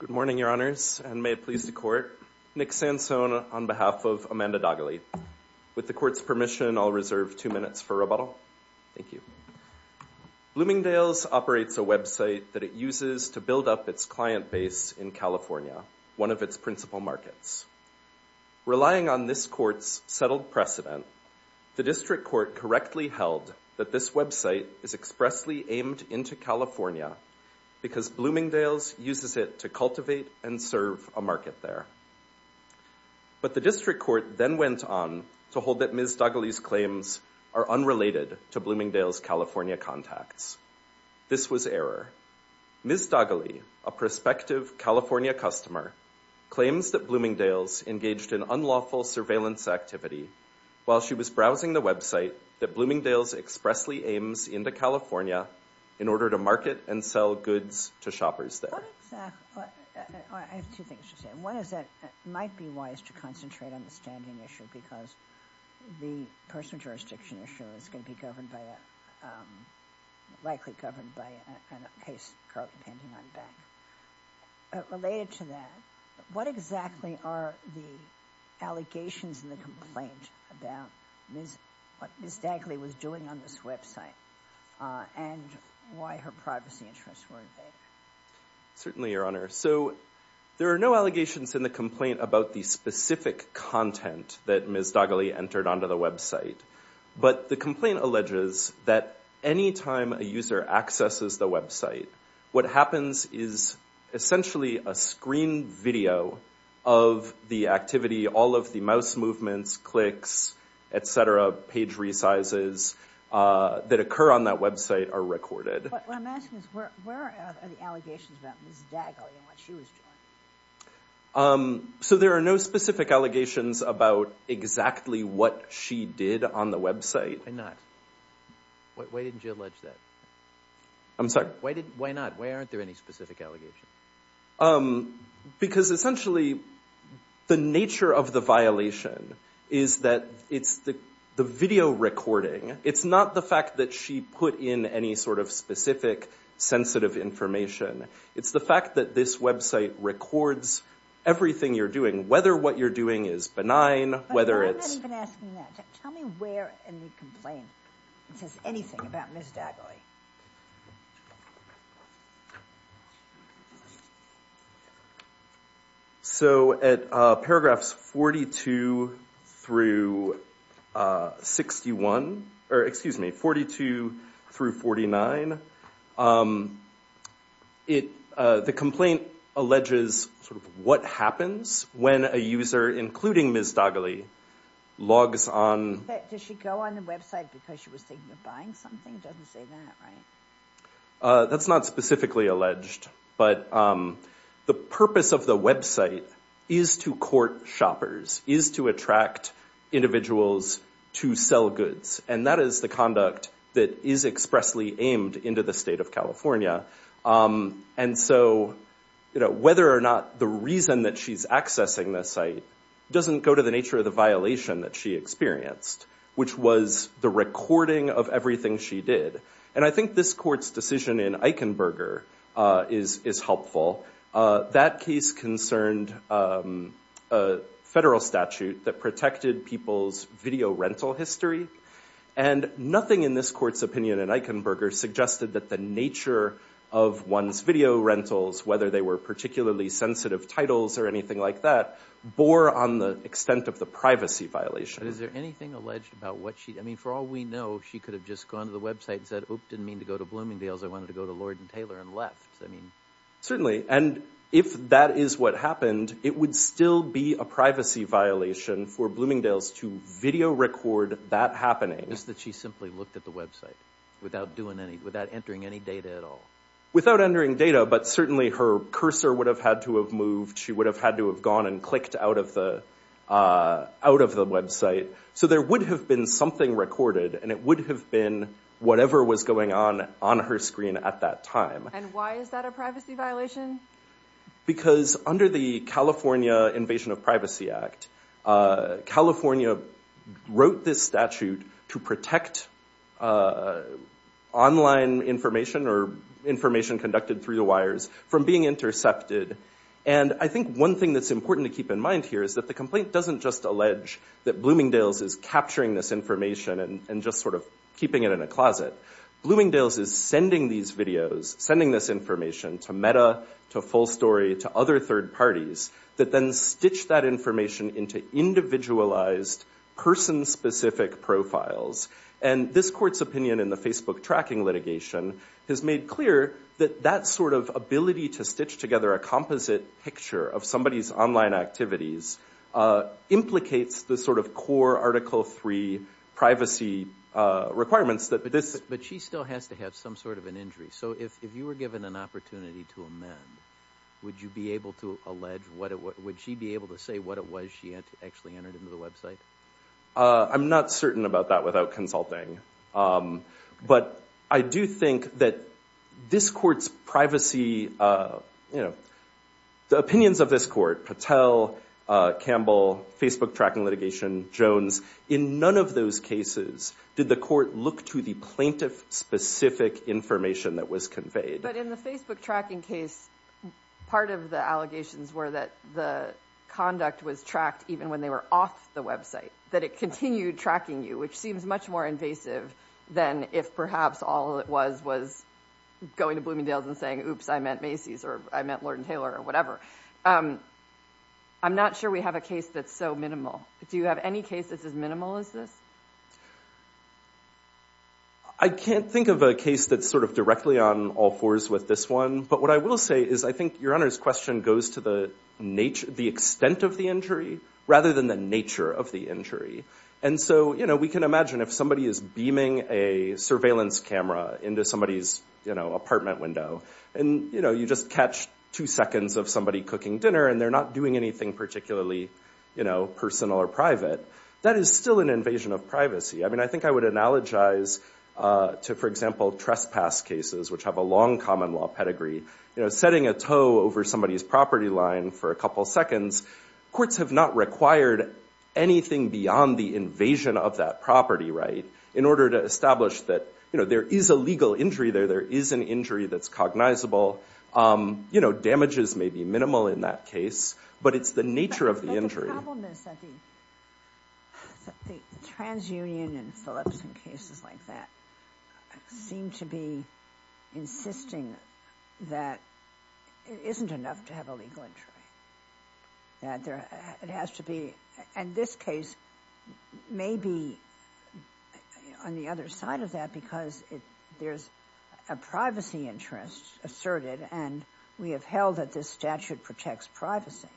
Good morning, Your Honors, and may it please the Court. Nick Sansone on behalf of Amanda Daghaly. With the Court's permission, I'll reserve two minutes for rebuttal. Thank you. Bloomingdales operates a website that it uses to build up its client base in California, one of its principal markets. Relying on this Court's settled precedent, the District Court correctly held that this website is expressly aimed into California because Bloomingdales uses it to cultivate and serve a market there. But the District Court then went on to hold that Ms. Daghaly's claims are unrelated to Bloomingdales' California contacts. This was error. Ms. Daghaly, a prospective California customer, claims that Bloomingdales engaged in unlawful surveillance activity while she was browsing the website that Bloomingdales expressly aims into California in order to market and sell goods to shoppers there. I have two things to say. One is that it might be wise to concentrate on the standing issue because the personal jurisdiction issue is going to be likely governed by a case pending on the bank. Related to that, what exactly are the allegations in the complaint about what Ms. Daghaly was doing on this website and why her privacy interests were invaded? Certainly, Your Honor. There are no allegations in the complaint about the specific content that Ms. Daghaly entered onto the website. But the complaint alleges that any time a user accesses the website, what happens is essentially a screen video of the activity. All of the mouse movements, clicks, et cetera, page resizes that occur on that website are recorded. But what I'm asking is where are the allegations about Ms. Daghaly and what she was doing? So there are no specific allegations about exactly what she did on the website. Why not? Why didn't you allege that? I'm sorry? Why not? Why aren't there any specific allegations? Because essentially the nature of the violation is that it's the video recording. It's not the fact that she put in any sort of specific sensitive information. It's the fact that this website records everything you're doing, whether what you're doing is benign, whether it's— But I'm not even asking that. Tell me where in the complaint it says anything about Ms. Daghaly. Okay. So at paragraphs 42 through 61, or excuse me, 42 through 49, the complaint alleges sort of what happens when a user, including Ms. Daghaly, logs on— Does she go on the website because she was thinking of buying something? It doesn't say that, right? That's not specifically alleged. But the purpose of the website is to court shoppers, is to attract individuals to sell goods. And that is the conduct that is expressly aimed into the state of California. And so whether or not the reason that she's accessing the site doesn't go to the nature of the violation that she experienced, which was the recording of everything she did. And I think this court's decision in Eichenberger is helpful. That case concerned a federal statute that protected people's video rental history. And nothing in this court's opinion in Eichenberger suggested that the nature of one's video rentals, whether they were particularly sensitive titles or anything like that, bore on the extent of the privacy violation. But is there anything alleged about what she—I mean, for all we know, she could have just gone to the website and said, oop, didn't mean to go to Bloomingdale's. I wanted to go to Lord & Taylor and left. Certainly. And if that is what happened, it would still be a privacy violation for Bloomingdale's to video record that happening. Just that she simply looked at the website without entering any data at all. Without entering data, but certainly her cursor would have had to have moved. She would have had to have gone and clicked out of the website. So there would have been something recorded, and it would have been whatever was going on on her screen at that time. And why is that a privacy violation? Because under the California Invasion of Privacy Act, California wrote this statute to protect online information or information conducted through the wires from being intercepted. And I think one thing that's important to keep in mind here is that the complaint doesn't just allege that Bloomingdale's is capturing this information and just sort of keeping it in a closet. Bloomingdale's is sending these videos, sending this information to Metta, to Full Story, to other third parties that then stitch that information into individualized, person-specific profiles. And this court's opinion in the Facebook tracking litigation has made clear that that sort of ability to stitch together a composite picture of somebody's online activities implicates the sort of core Article III privacy requirements. But she still has to have some sort of an injury. So if you were given an opportunity to amend, would you be able to allege what it was? Would she be able to say what it was she actually entered into the website? I'm not certain about that without consulting. But I do think that this court's privacy, you know, the opinions of this court, Patel, Campbell, Facebook tracking litigation, Jones, in none of those cases did the court look to the plaintiff-specific information that was conveyed. But in the Facebook tracking case, part of the allegations were that the conduct was tracked even when they were off the website. That it continued tracking you, which seems much more invasive than if perhaps all it was was going to Bloomingdale's and saying, oops, I meant Macy's, or I meant Lord & Taylor, or whatever. I'm not sure we have a case that's so minimal. Do you have any case that's as minimal as this? I can't think of a case that's sort of directly on all fours with this one. But what I will say is I think Your Honor's question goes to the extent of the injury rather than the nature of the injury. And so we can imagine if somebody is beaming a surveillance camera into somebody's apartment window, and you just catch two seconds of somebody cooking dinner and they're not doing anything particularly personal or private, that is still an invasion of privacy. I mean, I think I would analogize to, for example, trespass cases, which have a long common law pedigree. Setting a toe over somebody's property line for a couple seconds, courts have not required anything beyond the invasion of that property, right? In order to establish that there is a legal injury there, there is an injury that's cognizable. Damages may be minimal in that case, but it's the nature of the injury. The problem is that the TransUnion and Philipson cases like that seem to be insisting that it isn't enough to have a legal injury. And this case may be on the other side of that because there's a privacy interest asserted, and we have held that this statute protects privacy.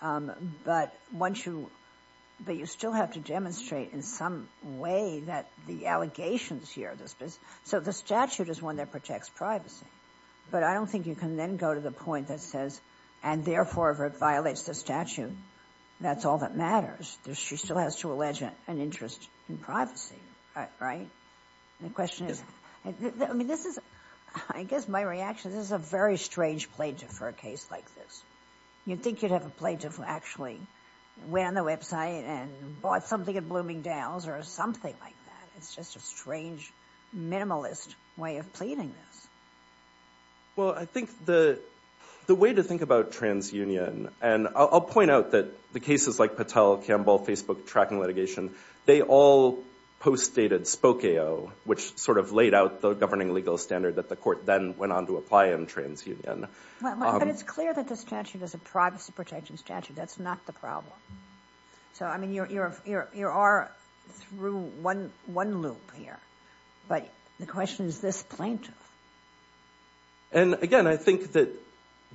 But once you... But you still have to demonstrate in some way that the allegations here... So the statute is one that protects privacy, but I don't think you can then go to the point that says, and therefore if it violates the statute, that's all that matters. She still has to allege an interest in privacy, right? The question is... I mean, this is... I guess my reaction, this is a very strange plaintiff for a case like this. You'd think you'd have a plaintiff who actually went on the website and bought something at Bloomingdale's or something like that. It's just a strange, minimalist way of pleading this. Well, I think the way to think about TransUnion, and I'll point out that the cases like Patel, Campbell, Facebook, tracking litigation, they all postdated Spokeo, which sort of laid out the governing legal standard that the court then went on to apply in TransUnion. But it's clear that the statute is a privacy-protecting statute. That's not the problem. So, I mean, you are through one loop here. But the question is this plaintiff. And, again, I think that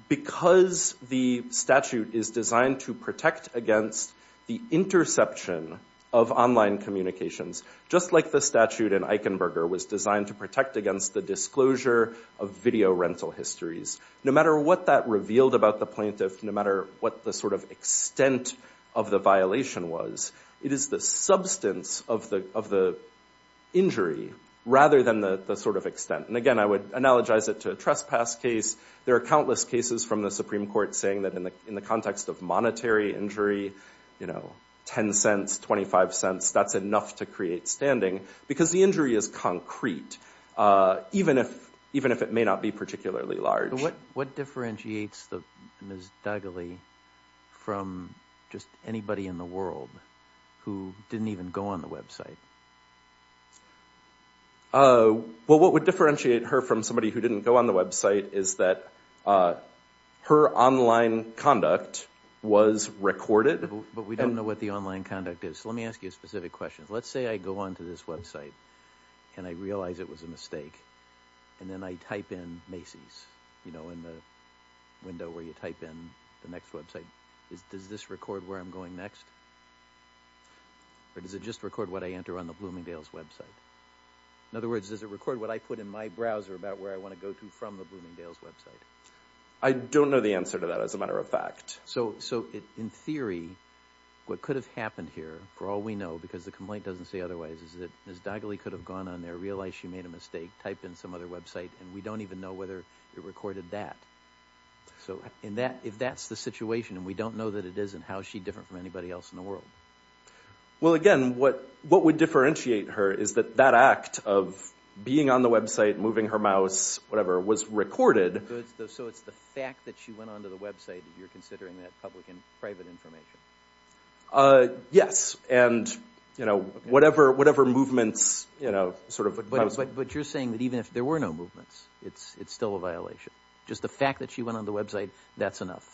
because the statute is designed to protect against the interception of online communications, just like the statute in Eichenberger was designed to protect against the disclosure of video rental histories, no matter what that revealed about the plaintiff, no matter what the sort of extent of the violation was, it is the substance of the injury rather than the sort of extent. And, again, I would analogize it to a trespass case. There are countless cases from the Supreme Court saying that in the context of monetary injury, you know, 10 cents, 25 cents, that's enough to create standing because the injury is concrete. Even if it may not be particularly large. What differentiates Ms. Duggally from just anybody in the world who didn't even go on the website? Well, what would differentiate her from somebody who didn't go on the website is that her online conduct was recorded. But we don't know what the online conduct is. So let me ask you a specific question. Let's say I go on to this website and I realize it was a mistake and then I type in Macy's, you know, in the window where you type in the next website. Does this record where I'm going next? Or does it just record what I enter on the Bloomingdale's website? In other words, does it record what I put in my browser about where I want to go to from the Bloomingdale's website? I don't know the answer to that, as a matter of fact. So, in theory, what could have happened here, for all we know, because the complaint doesn't say otherwise, is that Ms. Duggally could have gone on there, realized she made a mistake, typed in some other website, and we don't even know whether it recorded that. So if that's the situation and we don't know that it is, then how is she different from anybody else in the world? Well, again, what would differentiate her is that that act of being on the website, moving her mouse, whatever, was recorded. So it's the fact that she went on to the website that you're considering that public and private information? Yes. And, you know, whatever movements, you know, sort of... But you're saying that even if there were no movements, it's still a violation? Just the fact that she went on the website, that's enough?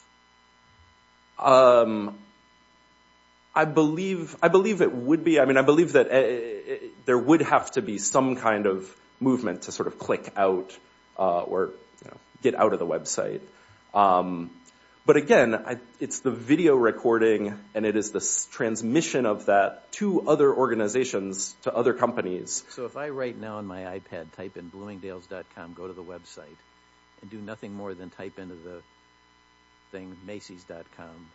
I believe it would be. I mean, I believe that there would have to be some kind of movement to sort of click out or get out of the website. But, again, it's the video recording, and it is the transmission of that to other organizations, to other companies. So if I right now on my iPad type in Bloomingdales.com, go to the website, and do nothing more than type into the thing Macy's.com,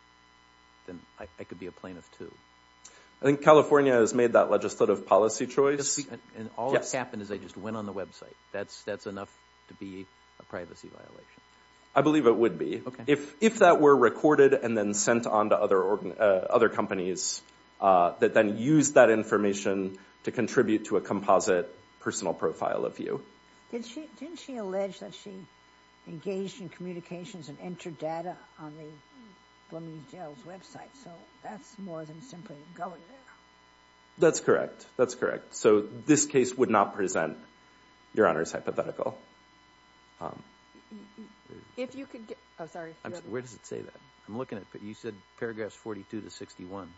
then I could be a plaintiff too? I think California has made that legislative policy choice. And all that's happened is I just went on the website. That's enough to be a privacy violation? I believe it would be. If that were recorded and then sent on to other companies that then used that information to contribute to a composite personal profile of you. Didn't she allege that she engaged in communications and entered data on the Bloomingdale's website? So that's more than simply going there. That's correct. That's correct. So this case would not present Your Honor's hypothetical. Where does it say that? You said paragraphs 42 to 61.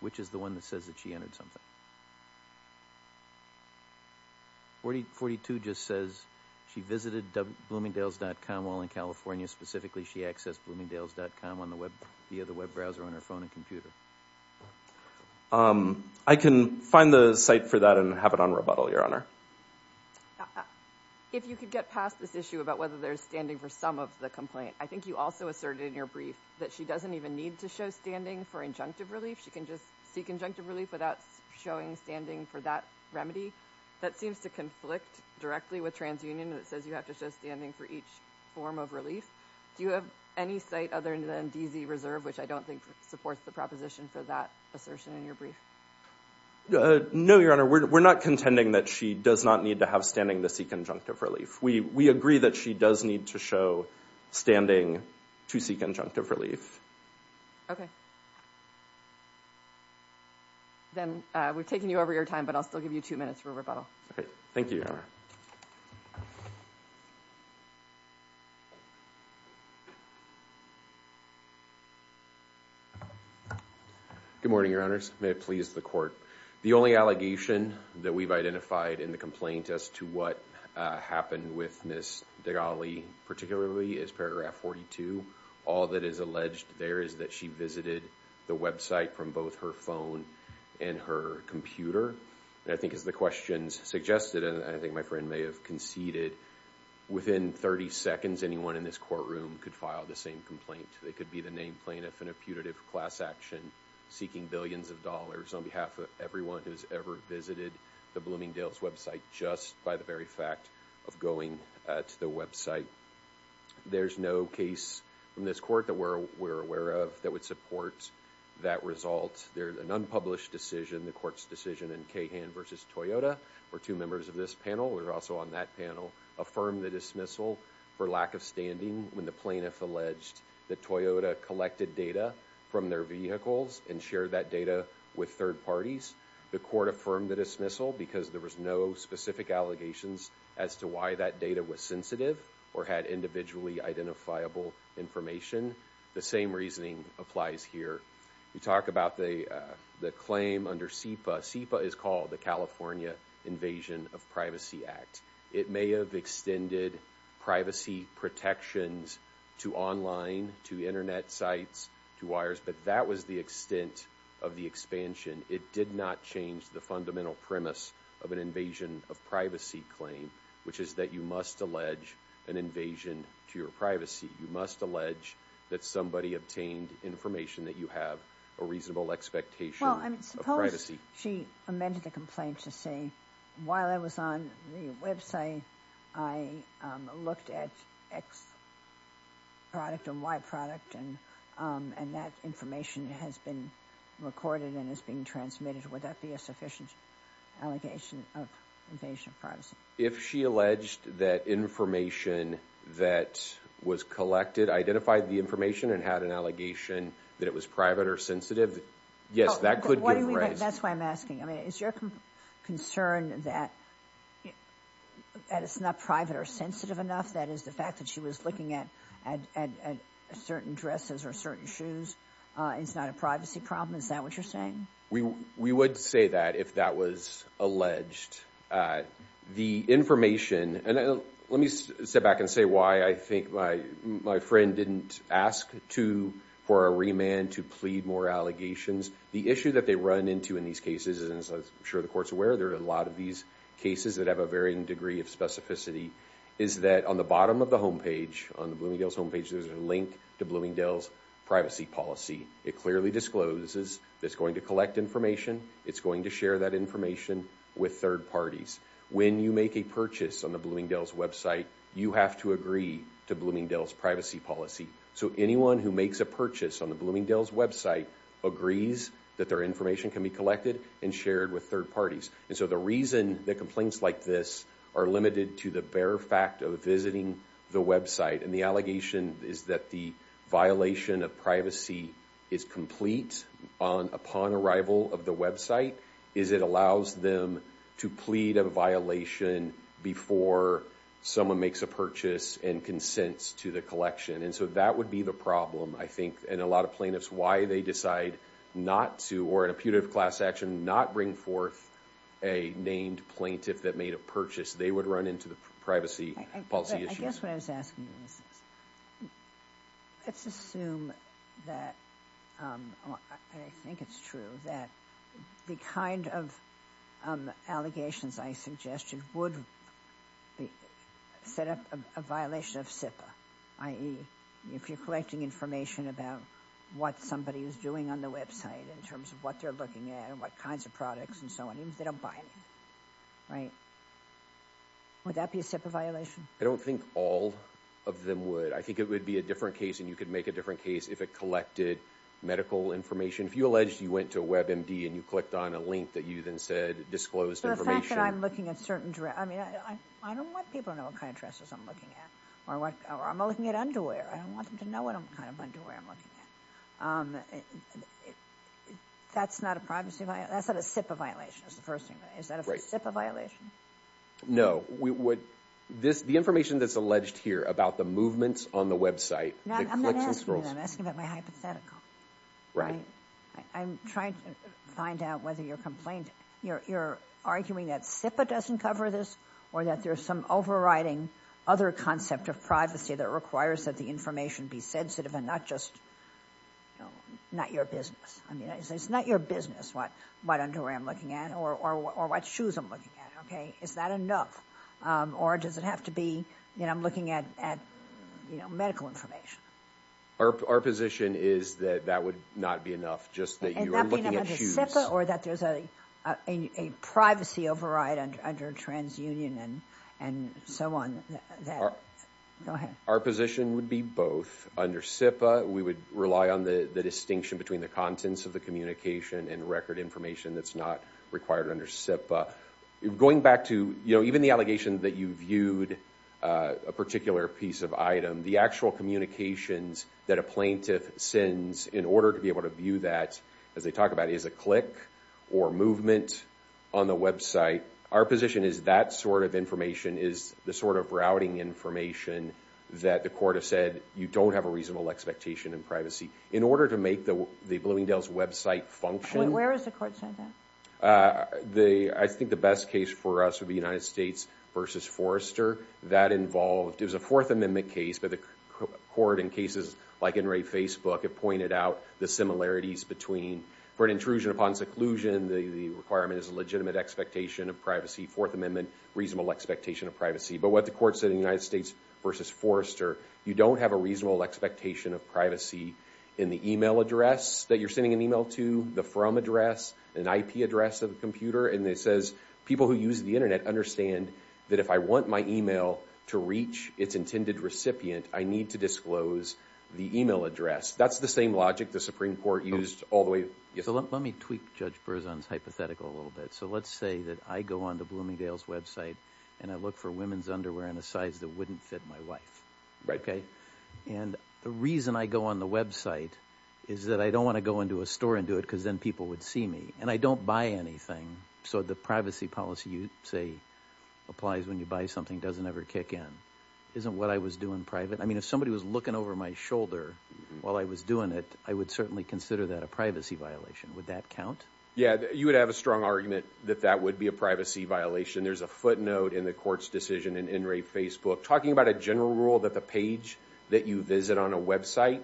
Which is the one that says that she entered something? 42 just says she visited Bloomingdales.com while in California. Specifically, she accessed Bloomingdales.com via the web browser on her phone and computer. I can find the site for that and have it on rebuttal, Your Honor. If you could get past this issue about whether there's standing for some of the complaint. I think you also asserted in your brief that she doesn't even need to show standing for injunctive relief. She can just seek injunctive relief without showing standing for that remedy. That seems to conflict directly with TransUnion. It says you have to show standing for each form of relief. Do you have any site other than DZ Reserve, which I don't think supports the proposition for that assertion in your brief? No, Your Honor. We're not contending that she does not need to have standing to seek injunctive relief. We agree that she does need to show standing to seek injunctive relief. Okay. Then we've taken you over your time, but I'll still give you two minutes for rebuttal. Okay. Thank you, Your Honor. Good morning, Your Honors. May it please the Court. The only allegation that we've identified in the complaint as to what happened with Ms. Degali, particularly, is paragraph 42. All that is alleged there is that she visited the website from both her phone and her computer. And I think as the questions suggested, and I think my friend has also suggested, within 30 seconds, anyone in this courtroom could file the same complaint. They could be the named plaintiff in a putative class action seeking billions of dollars on behalf of everyone who's ever visited the Bloomingdale's website just by the very fact of going to the website. There's no case in this court that we're aware of that would support that result. There's an unpublished decision, the Court's decision in Cahan v. Toyota, where two members of this panel were also on that panel, affirmed the dismissal for lack of standing when the plaintiff alleged that Toyota collected data from their vehicles and shared that data with third parties. The Court affirmed the dismissal because there was no specific allegations as to why that data was sensitive or had individually identifiable information. The same reasoning applies here. We talk about the claim under CEPA. CEPA is called the California Invasion of Privacy Act. It may have extended privacy protections to online, to Internet sites, to wires, but that was the extent of the expansion. It did not change the fundamental premise of an invasion of privacy claim, which is that you must allege an invasion to your privacy. You must allege that somebody obtained information that you have a reasonable expectation of privacy. Suppose she amended the complaint to say, while I was on the website I looked at X product and Y product and that information has been recorded and is being transmitted. Would that be a sufficient allegation of invasion of privacy? If she alleged that information that was collected, identified the information and had an allegation that it was private or sensitive, yes, that could give rise. That's why I'm asking. Is your concern that it's not private or sensitive enough? That is, the fact that she was looking at certain dresses or certain shoes is not a privacy problem? Is that what you're saying? We would say that if that was alleged. The information, and let me step back and say why I think my friend didn't ask for a remand to plead more allegations. The issue that they run into in these cases, and I'm sure the court's aware there are a lot of these cases that have a varying degree of specificity, is that on the bottom of the homepage, on the Bloomingdale's homepage, there's a link to Bloomingdale's privacy policy. It clearly discloses that it's going to collect information, it's going to share that information with third parties. When you make a purchase on the Bloomingdale's website, you have to agree to Bloomingdale's privacy policy. So anyone who makes a purchase on the Bloomingdale's website agrees that their information can be collected and shared with third parties. And so the reason that complaints like this are limited to the bare fact of visiting the website and the allegation is that the violation of privacy is complete upon arrival of the website, is it allows them to plead a violation before someone makes a purchase and consents to the collection. And so that would be the problem, I think, and a lot of plaintiffs, why they decide not to, or in a putative class action, not bring forth a named plaintiff that made a purchase. They would run into the privacy policy issues. I guess what I was asking you is this. Let's assume that, and I think it's true, that the kind of allegations I suggested would set up a violation of SIPA, i.e., if you're collecting information about what somebody is doing on the website in terms of what they're looking at and what kinds of products and so on, even if they don't buy anything, right? Would that be a SIPA violation? I don't think all of them would. I think it would be a different case, and you could make a different case, if it collected medical information. If you alleged you went to WebMD and you clicked on a link that you then said disclosed information. The fact that I'm looking at certain dresses, I mean, I don't want people to know what kind of dresses I'm looking at, or I'm looking at underwear. I don't want them to know what kind of underwear I'm looking at. That's not a privacy violation. That's not a SIPA violation, is the first thing. Is that a SIPA violation? No. The information that's alleged here about the movements on the website, the clicks and scrolls. I'm not asking you that. I'm asking about my hypothetical. Right. I'm trying to find out whether you're arguing that SIPA doesn't cover this or that there's some overriding other concept of privacy that requires that the information be sensitive and not just not your business. It's not your business what underwear I'm looking at or what shoes I'm looking at. Is that enough, or does it have to be I'm looking at medical information? Our position is that that would not be enough, just that you are looking at shoes. Or that there's a privacy override under TransUnion and so on. Go ahead. Our position would be both. Under SIPA, we would rely on the distinction between the contents of the communication and record information that's not required under SIPA. Going back to even the allegation that you viewed a particular piece of item, the actual communications that a plaintiff sends in order to be able to view that, as they talk about it, is a click or movement on the website. Our position is that sort of information is the sort of routing information that the court has said you don't have a reasonable expectation in privacy. In order to make the Bloomingdale's website function Where is the court sent that? I think the best case for us would be United States v. Forrester. That involved, it was a Fourth Amendment case, but the court in cases like in Ray Facebook had pointed out the similarities between for an intrusion upon seclusion, the requirement is a legitimate expectation of privacy. Fourth Amendment, reasonable expectation of privacy. But what the court said in United States v. Forrester, you don't have a reasonable expectation of privacy in the email address that you're sending an email to, the from address, an IP address of the computer, and it says people who use the internet understand that if I want my email to reach its intended recipient, I need to disclose the email address. That's the same logic the Supreme Court used all the way... So let me tweak Judge Berzon's hypothetical a little bit. So let's say that I go onto Bloomingdale's website and I look for women's underwear in a size that wouldn't fit my wife, okay? And the reason I go on the website is that I don't want to go into a store and do it because then people would see me, and I don't buy anything. So the privacy policy you say applies when you buy something doesn't ever kick in. Isn't what I was doing private? I mean, if somebody was looking over my shoulder while I was doing it, I would certainly consider that a privacy violation. Would that count? Yeah, you would have a strong argument that that would be a privacy violation. There's a footnote in the court's decision in In Re Facebook talking about a general rule that the page that you visit on a website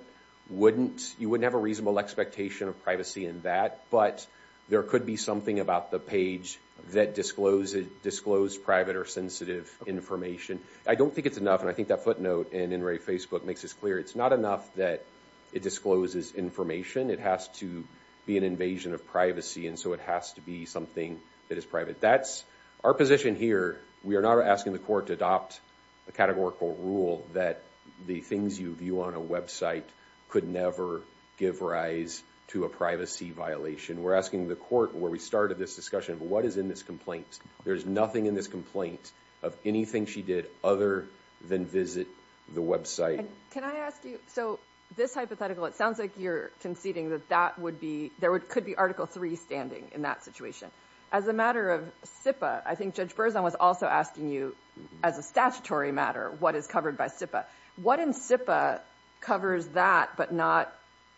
wouldn't have a reasonable expectation of privacy in that, but there could be something about the page that disclosed private or sensitive information. I don't think it's enough, and I think that footnote in In Re Facebook makes this clear. It's not enough that it discloses information. It has to be an invasion of privacy, and so it has to be something that is private. That's our position here. We are not asking the court to adopt a categorical rule that the things you view on a website could never give rise to a privacy violation. We're asking the court, where we started this discussion, what is in this complaint? There's nothing in this complaint of anything she did other than visit the website. Can I ask you, so this hypothetical, it sounds like you're conceding that that would be, there could be Article III standing in that situation. As a matter of SIPA, I think Judge Berzon was also asking you, as a statutory matter, what is covered by SIPA. What in SIPA covers that but not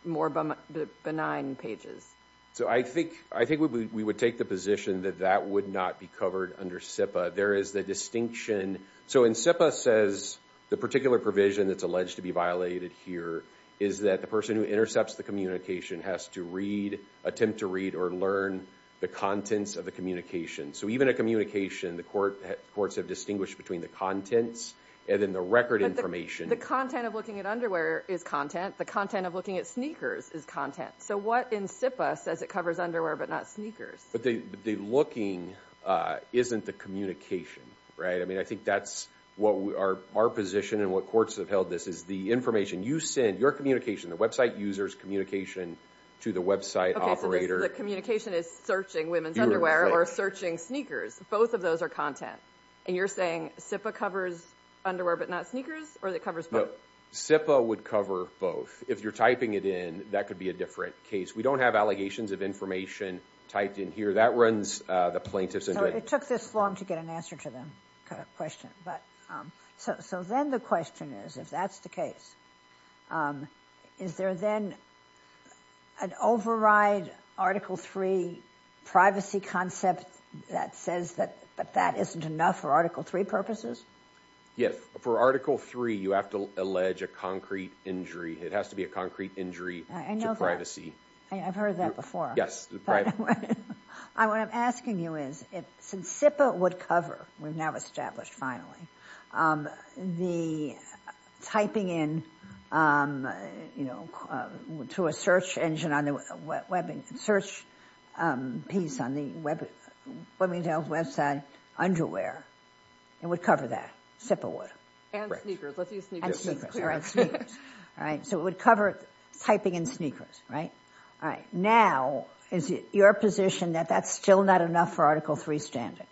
more benign pages? So I think we would take the position that that would not be covered under SIPA. There is the distinction, so in SIPA says, the particular provision that's alleged to be violated here is that the person who intercepts the communication has to attempt to read or learn the contents of the communication. So even a communication, the courts have distinguished between the contents and then the record information. But the content of looking at underwear is content. The content of looking at sneakers is content. So what in SIPA says it covers underwear but not sneakers? But the looking isn't the communication. I think that's our position and what courts have held this, is the information you send, your communication, the website user's communication to the website operator. Okay, so the communication is searching women's underwear or searching sneakers. Both of those are content. And you're saying SIPA covers underwear but not sneakers? Or that it covers both? SIPA would cover both. If you're typing it in, that could be a different case. We don't have allegations of information typed in here. That runs the plaintiff's inventory. It took this long to get an answer to the question. So then the question is, if that's the case, is there then an override Article 3 privacy concept that says that that isn't enough for Article 3 purposes? Yes. For Article 3, you have to allege a concrete injury. It has to be a concrete injury to privacy. I've heard that before. What I'm asking you is, since SIPA would cover, we've now established finally, the typing in to a search engine on the search piece on the women's health website underwear, it would cover that. SIPA would. And sneakers. Let's use sneakers. All right, sneakers. So it would cover typing in sneakers, right? Now, is it your position that that's still not enough for Article 3 standard?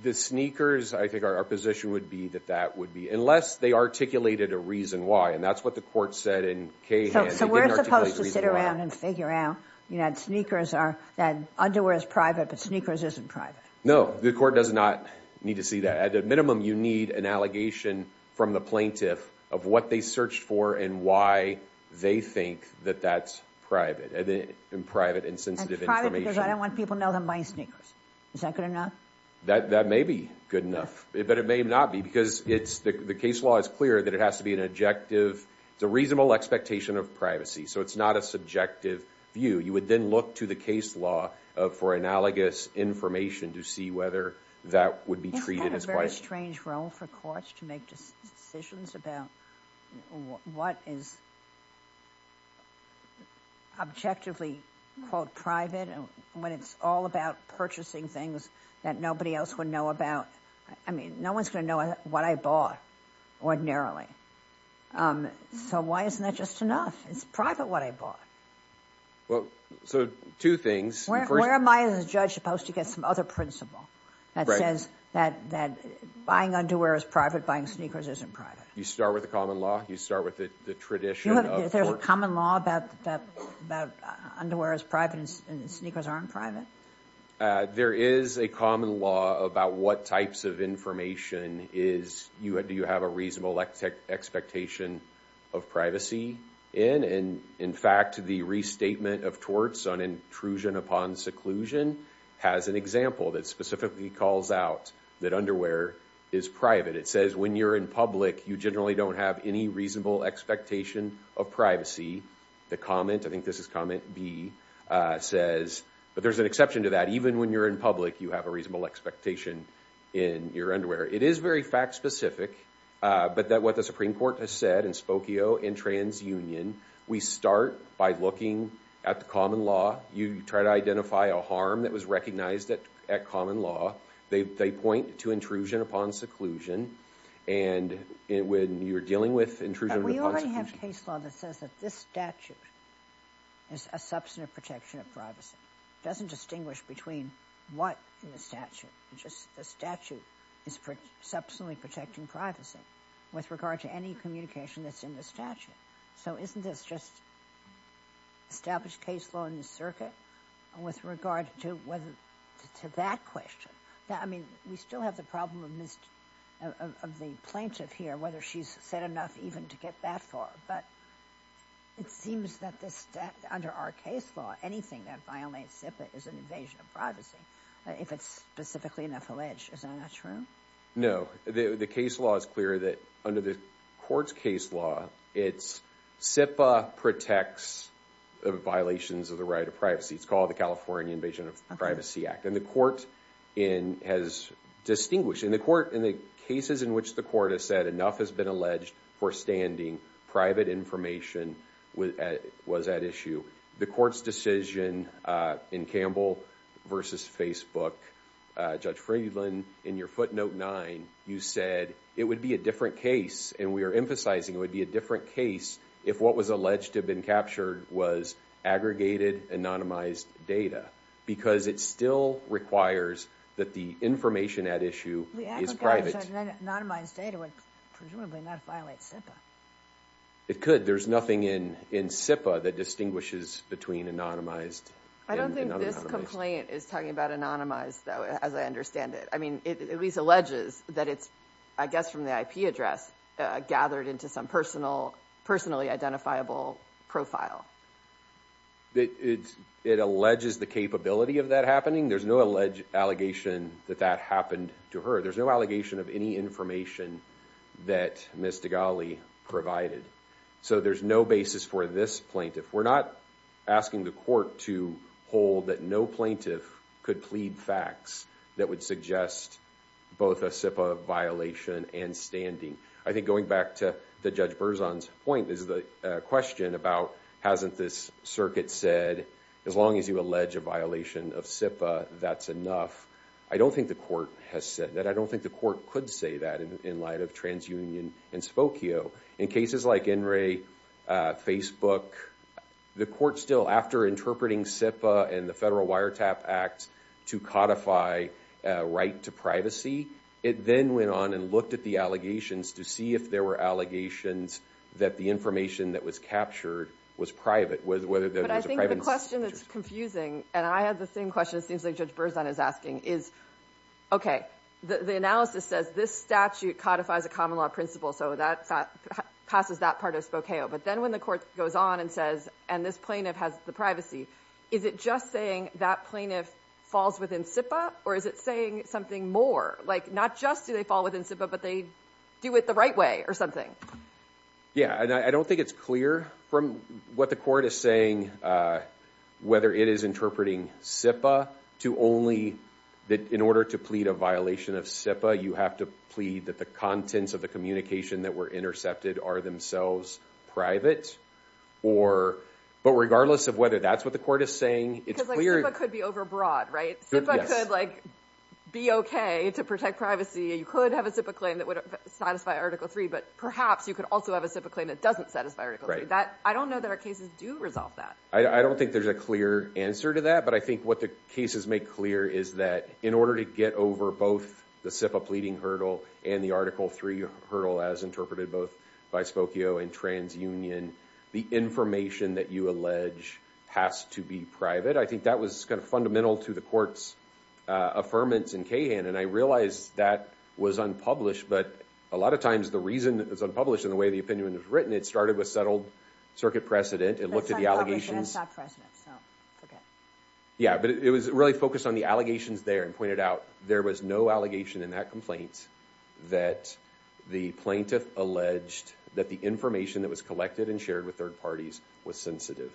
The sneakers, I think our position would be that that would be, unless they articulated a reason why. And that's what the court said in Cayhan. So we're supposed to sit around and figure out that sneakers are, that underwear is private, but sneakers isn't private. No, the court does not need to see that. At a minimum, you need an allegation from the plaintiff of what they searched for and why they think that that's private and sensitive information. And private because I don't want people to know that I'm buying sneakers. Is that good enough? That may be good enough. But it may not be because the case law is clear that it has to be an objective, it's a reasonable expectation of privacy. So it's not a subjective view. You would then look to the case law for analogous information to see whether that would be treated as privacy. Isn't that a very strange role for courts to make decisions about what is objectively, quote, private when it's all about purchasing things that nobody else would know about? I mean, no one's going to know what I bought ordinarily. So why isn't that just enough? It's private what I bought. Well, so two things. Where am I as a judge supposed to get some other principle that says that buying underwear is private, buying sneakers isn't private? You start with the common law, you start with the tradition of court. Is there a common law about underwear is private and sneakers aren't private? There is a common law about what types of information do you have a reasonable expectation of privacy in. And in fact, the restatement of torts on intrusion upon seclusion has an example that specifically calls out that underwear is private. It says when you're in public, you generally don't have any reasonable expectation of privacy. The comment, I think this is comment B, says, but there's an exception to that. Even when you're in public, you have a reasonable expectation in your underwear. It is very fact specific, but what the Supreme Court has said in Spokio and TransUnion, we start by looking at the common law. You try to identify a harm that was recognized at common law. They point to intrusion upon seclusion and when you're dealing with intrusion upon seclusion. But we already have case law that says that this statute is a substantive protection of privacy. It doesn't distinguish between what in the statute. The statute is substantially protecting privacy with regard to any communication that's in the statute. So isn't this just established case law in the circuit with regard to that question? I mean, we still have the problem of the plaintiff here, whether she's said enough even to get that far. But it seems that under our case law, anything that violates SIPA is an invasion of privacy if it's specifically an affilage. Is that not true? No. The case law is clear that under the court's case law, SIPA protects violations of the right of privacy. It's called the California Invasion of Privacy Act. And the court has distinguished. In the cases in which the court has said enough has been alleged for standing, private information was at issue. The court's decision in Campbell versus Facebook, Judge Friedland, in your footnote nine, you said, it would be a different case. And we are emphasizing it would be a different case if what was alleged to have been captured was aggregated, anonymized data. Because it still requires that the information at issue is private. Anonymized data would presumably not violate SIPA. It could. There's nothing in SIPA that distinguishes between anonymized and unanonymized. I don't think this complaint is talking about anonymized, as I understand it. I mean, it at least alleges that it's, I guess, from the IP address, gathered into some personally identifiable profile. It alleges the capability of that happening. There's no alleged allegation that that happened to her. There's no allegation of any information that Ms. Degali provided. So there's no basis for this plaintiff. We're not asking the court to hold that no plaintiff could plead facts that would suggest both a SIPA violation and standing. I think going back to Judge Berzon's point, is the question about, hasn't this circuit said, as long as you allege a violation of SIPA, that's enough? I don't think the court has said that. I don't think the court could say that in light of TransUnion and Spokio. In cases like NRA, Facebook, the court still, after interpreting SIPA and the Federal Wiretap Act to codify a right to privacy, it then went on and looked at the allegations to see if there were allegations that the information that was captured was private. But I think the question that's confusing, and I have the same question it seems like Judge Berzon is asking, is, OK, the analysis says this statute codifies a common law principle, so that passes that part of Spokio. But then when the court goes on and says, and this plaintiff has the privacy, is it just saying that plaintiff falls within SIPA? Or is it saying something more? Like, not just do they fall within SIPA, but they do it the right way or something? Yeah, and I don't think it's clear from what the court is saying whether it is interpreting SIPA to only that in order to plead a violation of SIPA, you have to plead that the contents of the communication that were intercepted are themselves private. But regardless of whether that's what the court is saying, it's clear. Because SIPA could be overbroad, right? SIPA could be OK to protect privacy. You could have a SIPA claim that would satisfy Article III. But perhaps you could also have a SIPA claim that doesn't satisfy Article III. I don't know that our cases do resolve that. I don't think there's a clear answer to that. But I think what the cases make clear is that in order to get over both the SIPA pleading hurdle and the Article III hurdle, as interpreted both by Spokio and TransUnion, the information that you allege has to be private. I think that was kind of fundamental to the court's affirmance in Cahan. And I realize that was unpublished. But a lot of times, the reason it was unpublished and the way the opinion was written, it started with settled circuit precedent. It looked at the allegations. But it's unpublished and it's not precedent, so forget it. Yeah, but it was really focused on the allegations there and pointed out there was no allegation in that complaint that the plaintiff alleged that the information that was collected and shared with third parties was sensitive.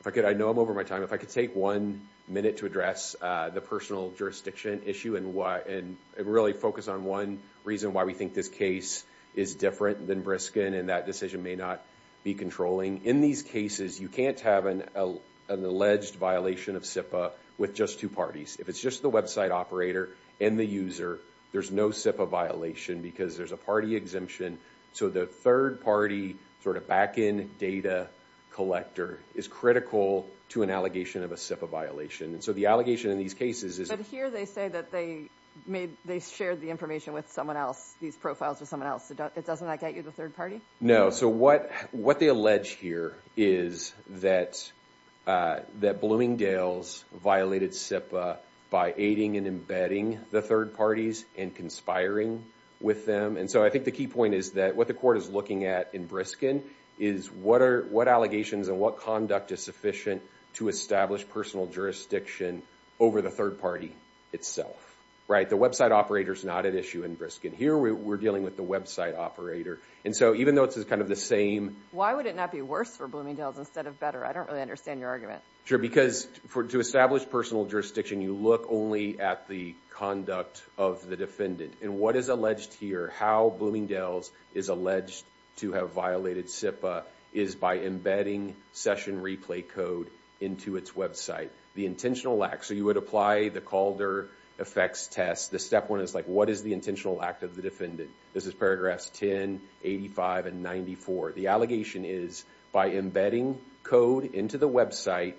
If I could, I know I'm over my time. If I could take one minute to address the personal jurisdiction issue and really focus on one reason why we think this case is different than Briskin and that decision may not be controlling. In these cases, you can't have an alleged violation of SIPA with just two parties. If it's just the website operator and the user, there's no SIPA violation because there's a party exemption. So the third party sort of back-end data collector is critical to an allegation of a SIPA violation. And so the allegation in these cases is... But here they say that they shared the information with someone else, these profiles with someone else. Doesn't that get you the third party? No, so what they allege here is that Bloomingdale's violated SIPA by aiding and embedding the third parties and conspiring with them. And so I think the key point is that what the court is looking at in Briskin is what allegations and what conduct is sufficient to establish personal jurisdiction over the third party itself, right? The website operator is not at issue in Briskin. Here we're dealing with the website operator. And so even though it's kind of the same... Why would it not be worse for Bloomingdale's instead of better? I don't really understand your argument. Sure, because to establish personal jurisdiction, you look only at the conduct of the defendant. And what is alleged here, how Bloomingdale's is alleged to have violated SIPA is by embedding session replay code into its website. The intentional lack... So you would apply the Calder effects test. The step one is, like, what is the intentional lack of the defendant? This is paragraphs 10, 85, and 94. The allegation is by embedding code into the website,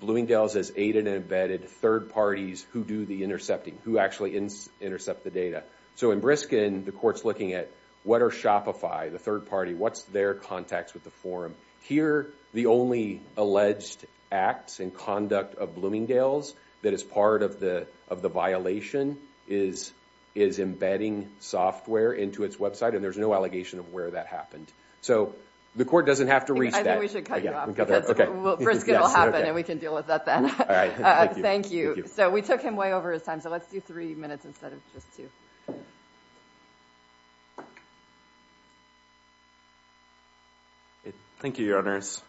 Bloomingdale's has aided and embedded third parties who do the intercepting, who actually intercept the data. So in Briskin, the court's looking at, what are Shopify, the third party? What's their contacts with the forum? Here, the only alleged acts and conduct of Bloomingdale's that is part of the violation is embedding software into its website, and there's no allegation of where that happened. So the court doesn't have to reach that. I think we should cut you off, because Briskin will happen, and we can deal with that then. All right, thank you. Thank you. So we took him way over his time, so let's do three minutes instead of just two. Thank you, Your Honors.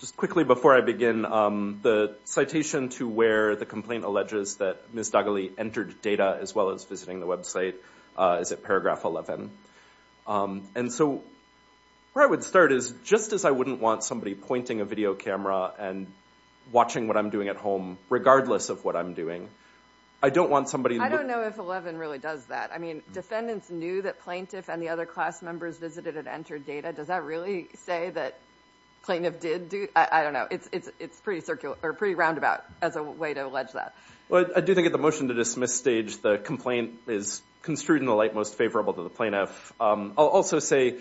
Just quickly, before I begin, the citation to where the complaint alleges that Ms. Dugally entered data, as well as visiting the website, is at paragraph 11. And so where I would start is, just as I wouldn't want somebody pointing a video camera and watching what I'm doing at home, regardless of what I'm doing, I don't want somebody to look. I don't know if 11 really does that. Defendants knew that plaintiff and the other class members visited and entered data. Does that really say that plaintiff did? I don't know. It's pretty roundabout as a way to allege that. Well, I do think at the motion to dismiss stage, the complaint is construed in the light most favorable to the plaintiff. I'll also say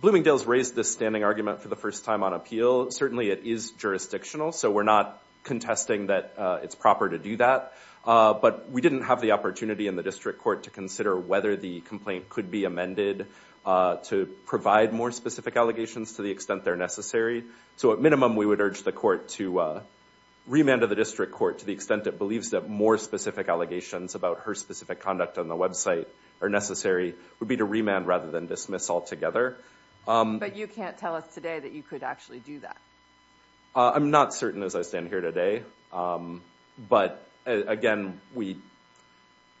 Bloomingdale's raised this standing argument for the first time on appeal. Certainly, it is jurisdictional. So we're not contesting that it's proper to do that. But we didn't have the opportunity in the district court to consider whether the complaint could be amended to provide more specific allegations to the extent they're necessary. So at minimum, we would urge the court to remand of the district court to the extent it believes that more specific allegations about her specific conduct on the website are necessary, would be to remand rather than dismiss altogether. But you can't tell us today that you could actually do that. I'm not certain as I stand here today. But again,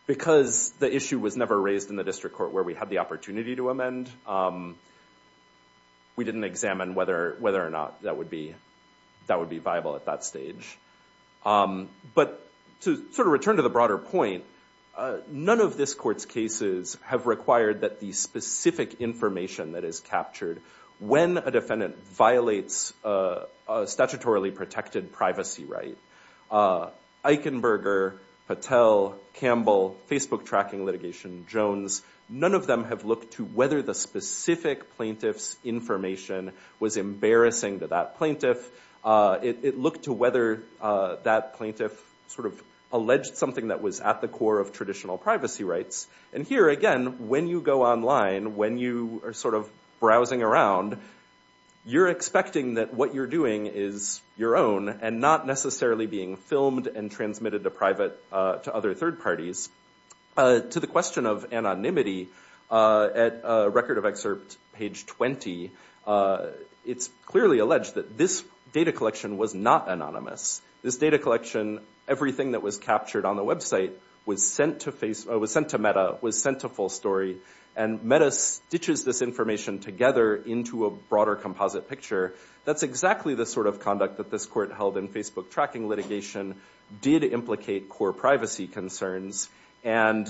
because the issue was never raised in the district court where we had the opportunity to amend, we didn't examine whether or not that would be viable at that stage. But to sort of return to the broader point, none of this court's cases have required that the specific information that is captured when a defendant violates a statutorily protected privacy right. Eichenberger, Patel, Campbell, Facebook tracking litigation, Jones, none of them have looked to whether the specific plaintiff's information was embarrassing to that plaintiff. It looked to whether that plaintiff sort of alleged something that was at the core of traditional privacy rights. And here, again, when you go online, when you are sort of browsing around, you're expecting that what you're doing is your own and not necessarily being filmed and transmitted to other third parties. To the question of anonymity, at record of excerpt page 20, it's clearly alleged that this data collection was not anonymous. This data collection, everything that was captured on the website, was sent to full story. And Meta stitches this information together into a broader composite picture. That's exactly the sort of conduct that this court held in Facebook tracking litigation did implicate core privacy concerns. And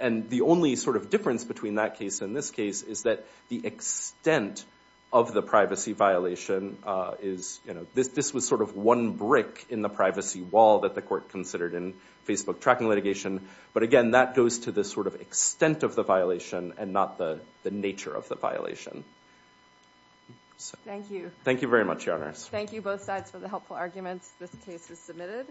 the only sort of difference between that case and this case is that the extent of the privacy violation is, this was sort of one brick in the privacy wall that the court considered in Facebook tracking litigation. But again, that goes to the sort of extent of the violation and not the nature of the violation. Thank you. Thank you very much, Your Honors. Thank you both sides for the helpful arguments this case has submitted.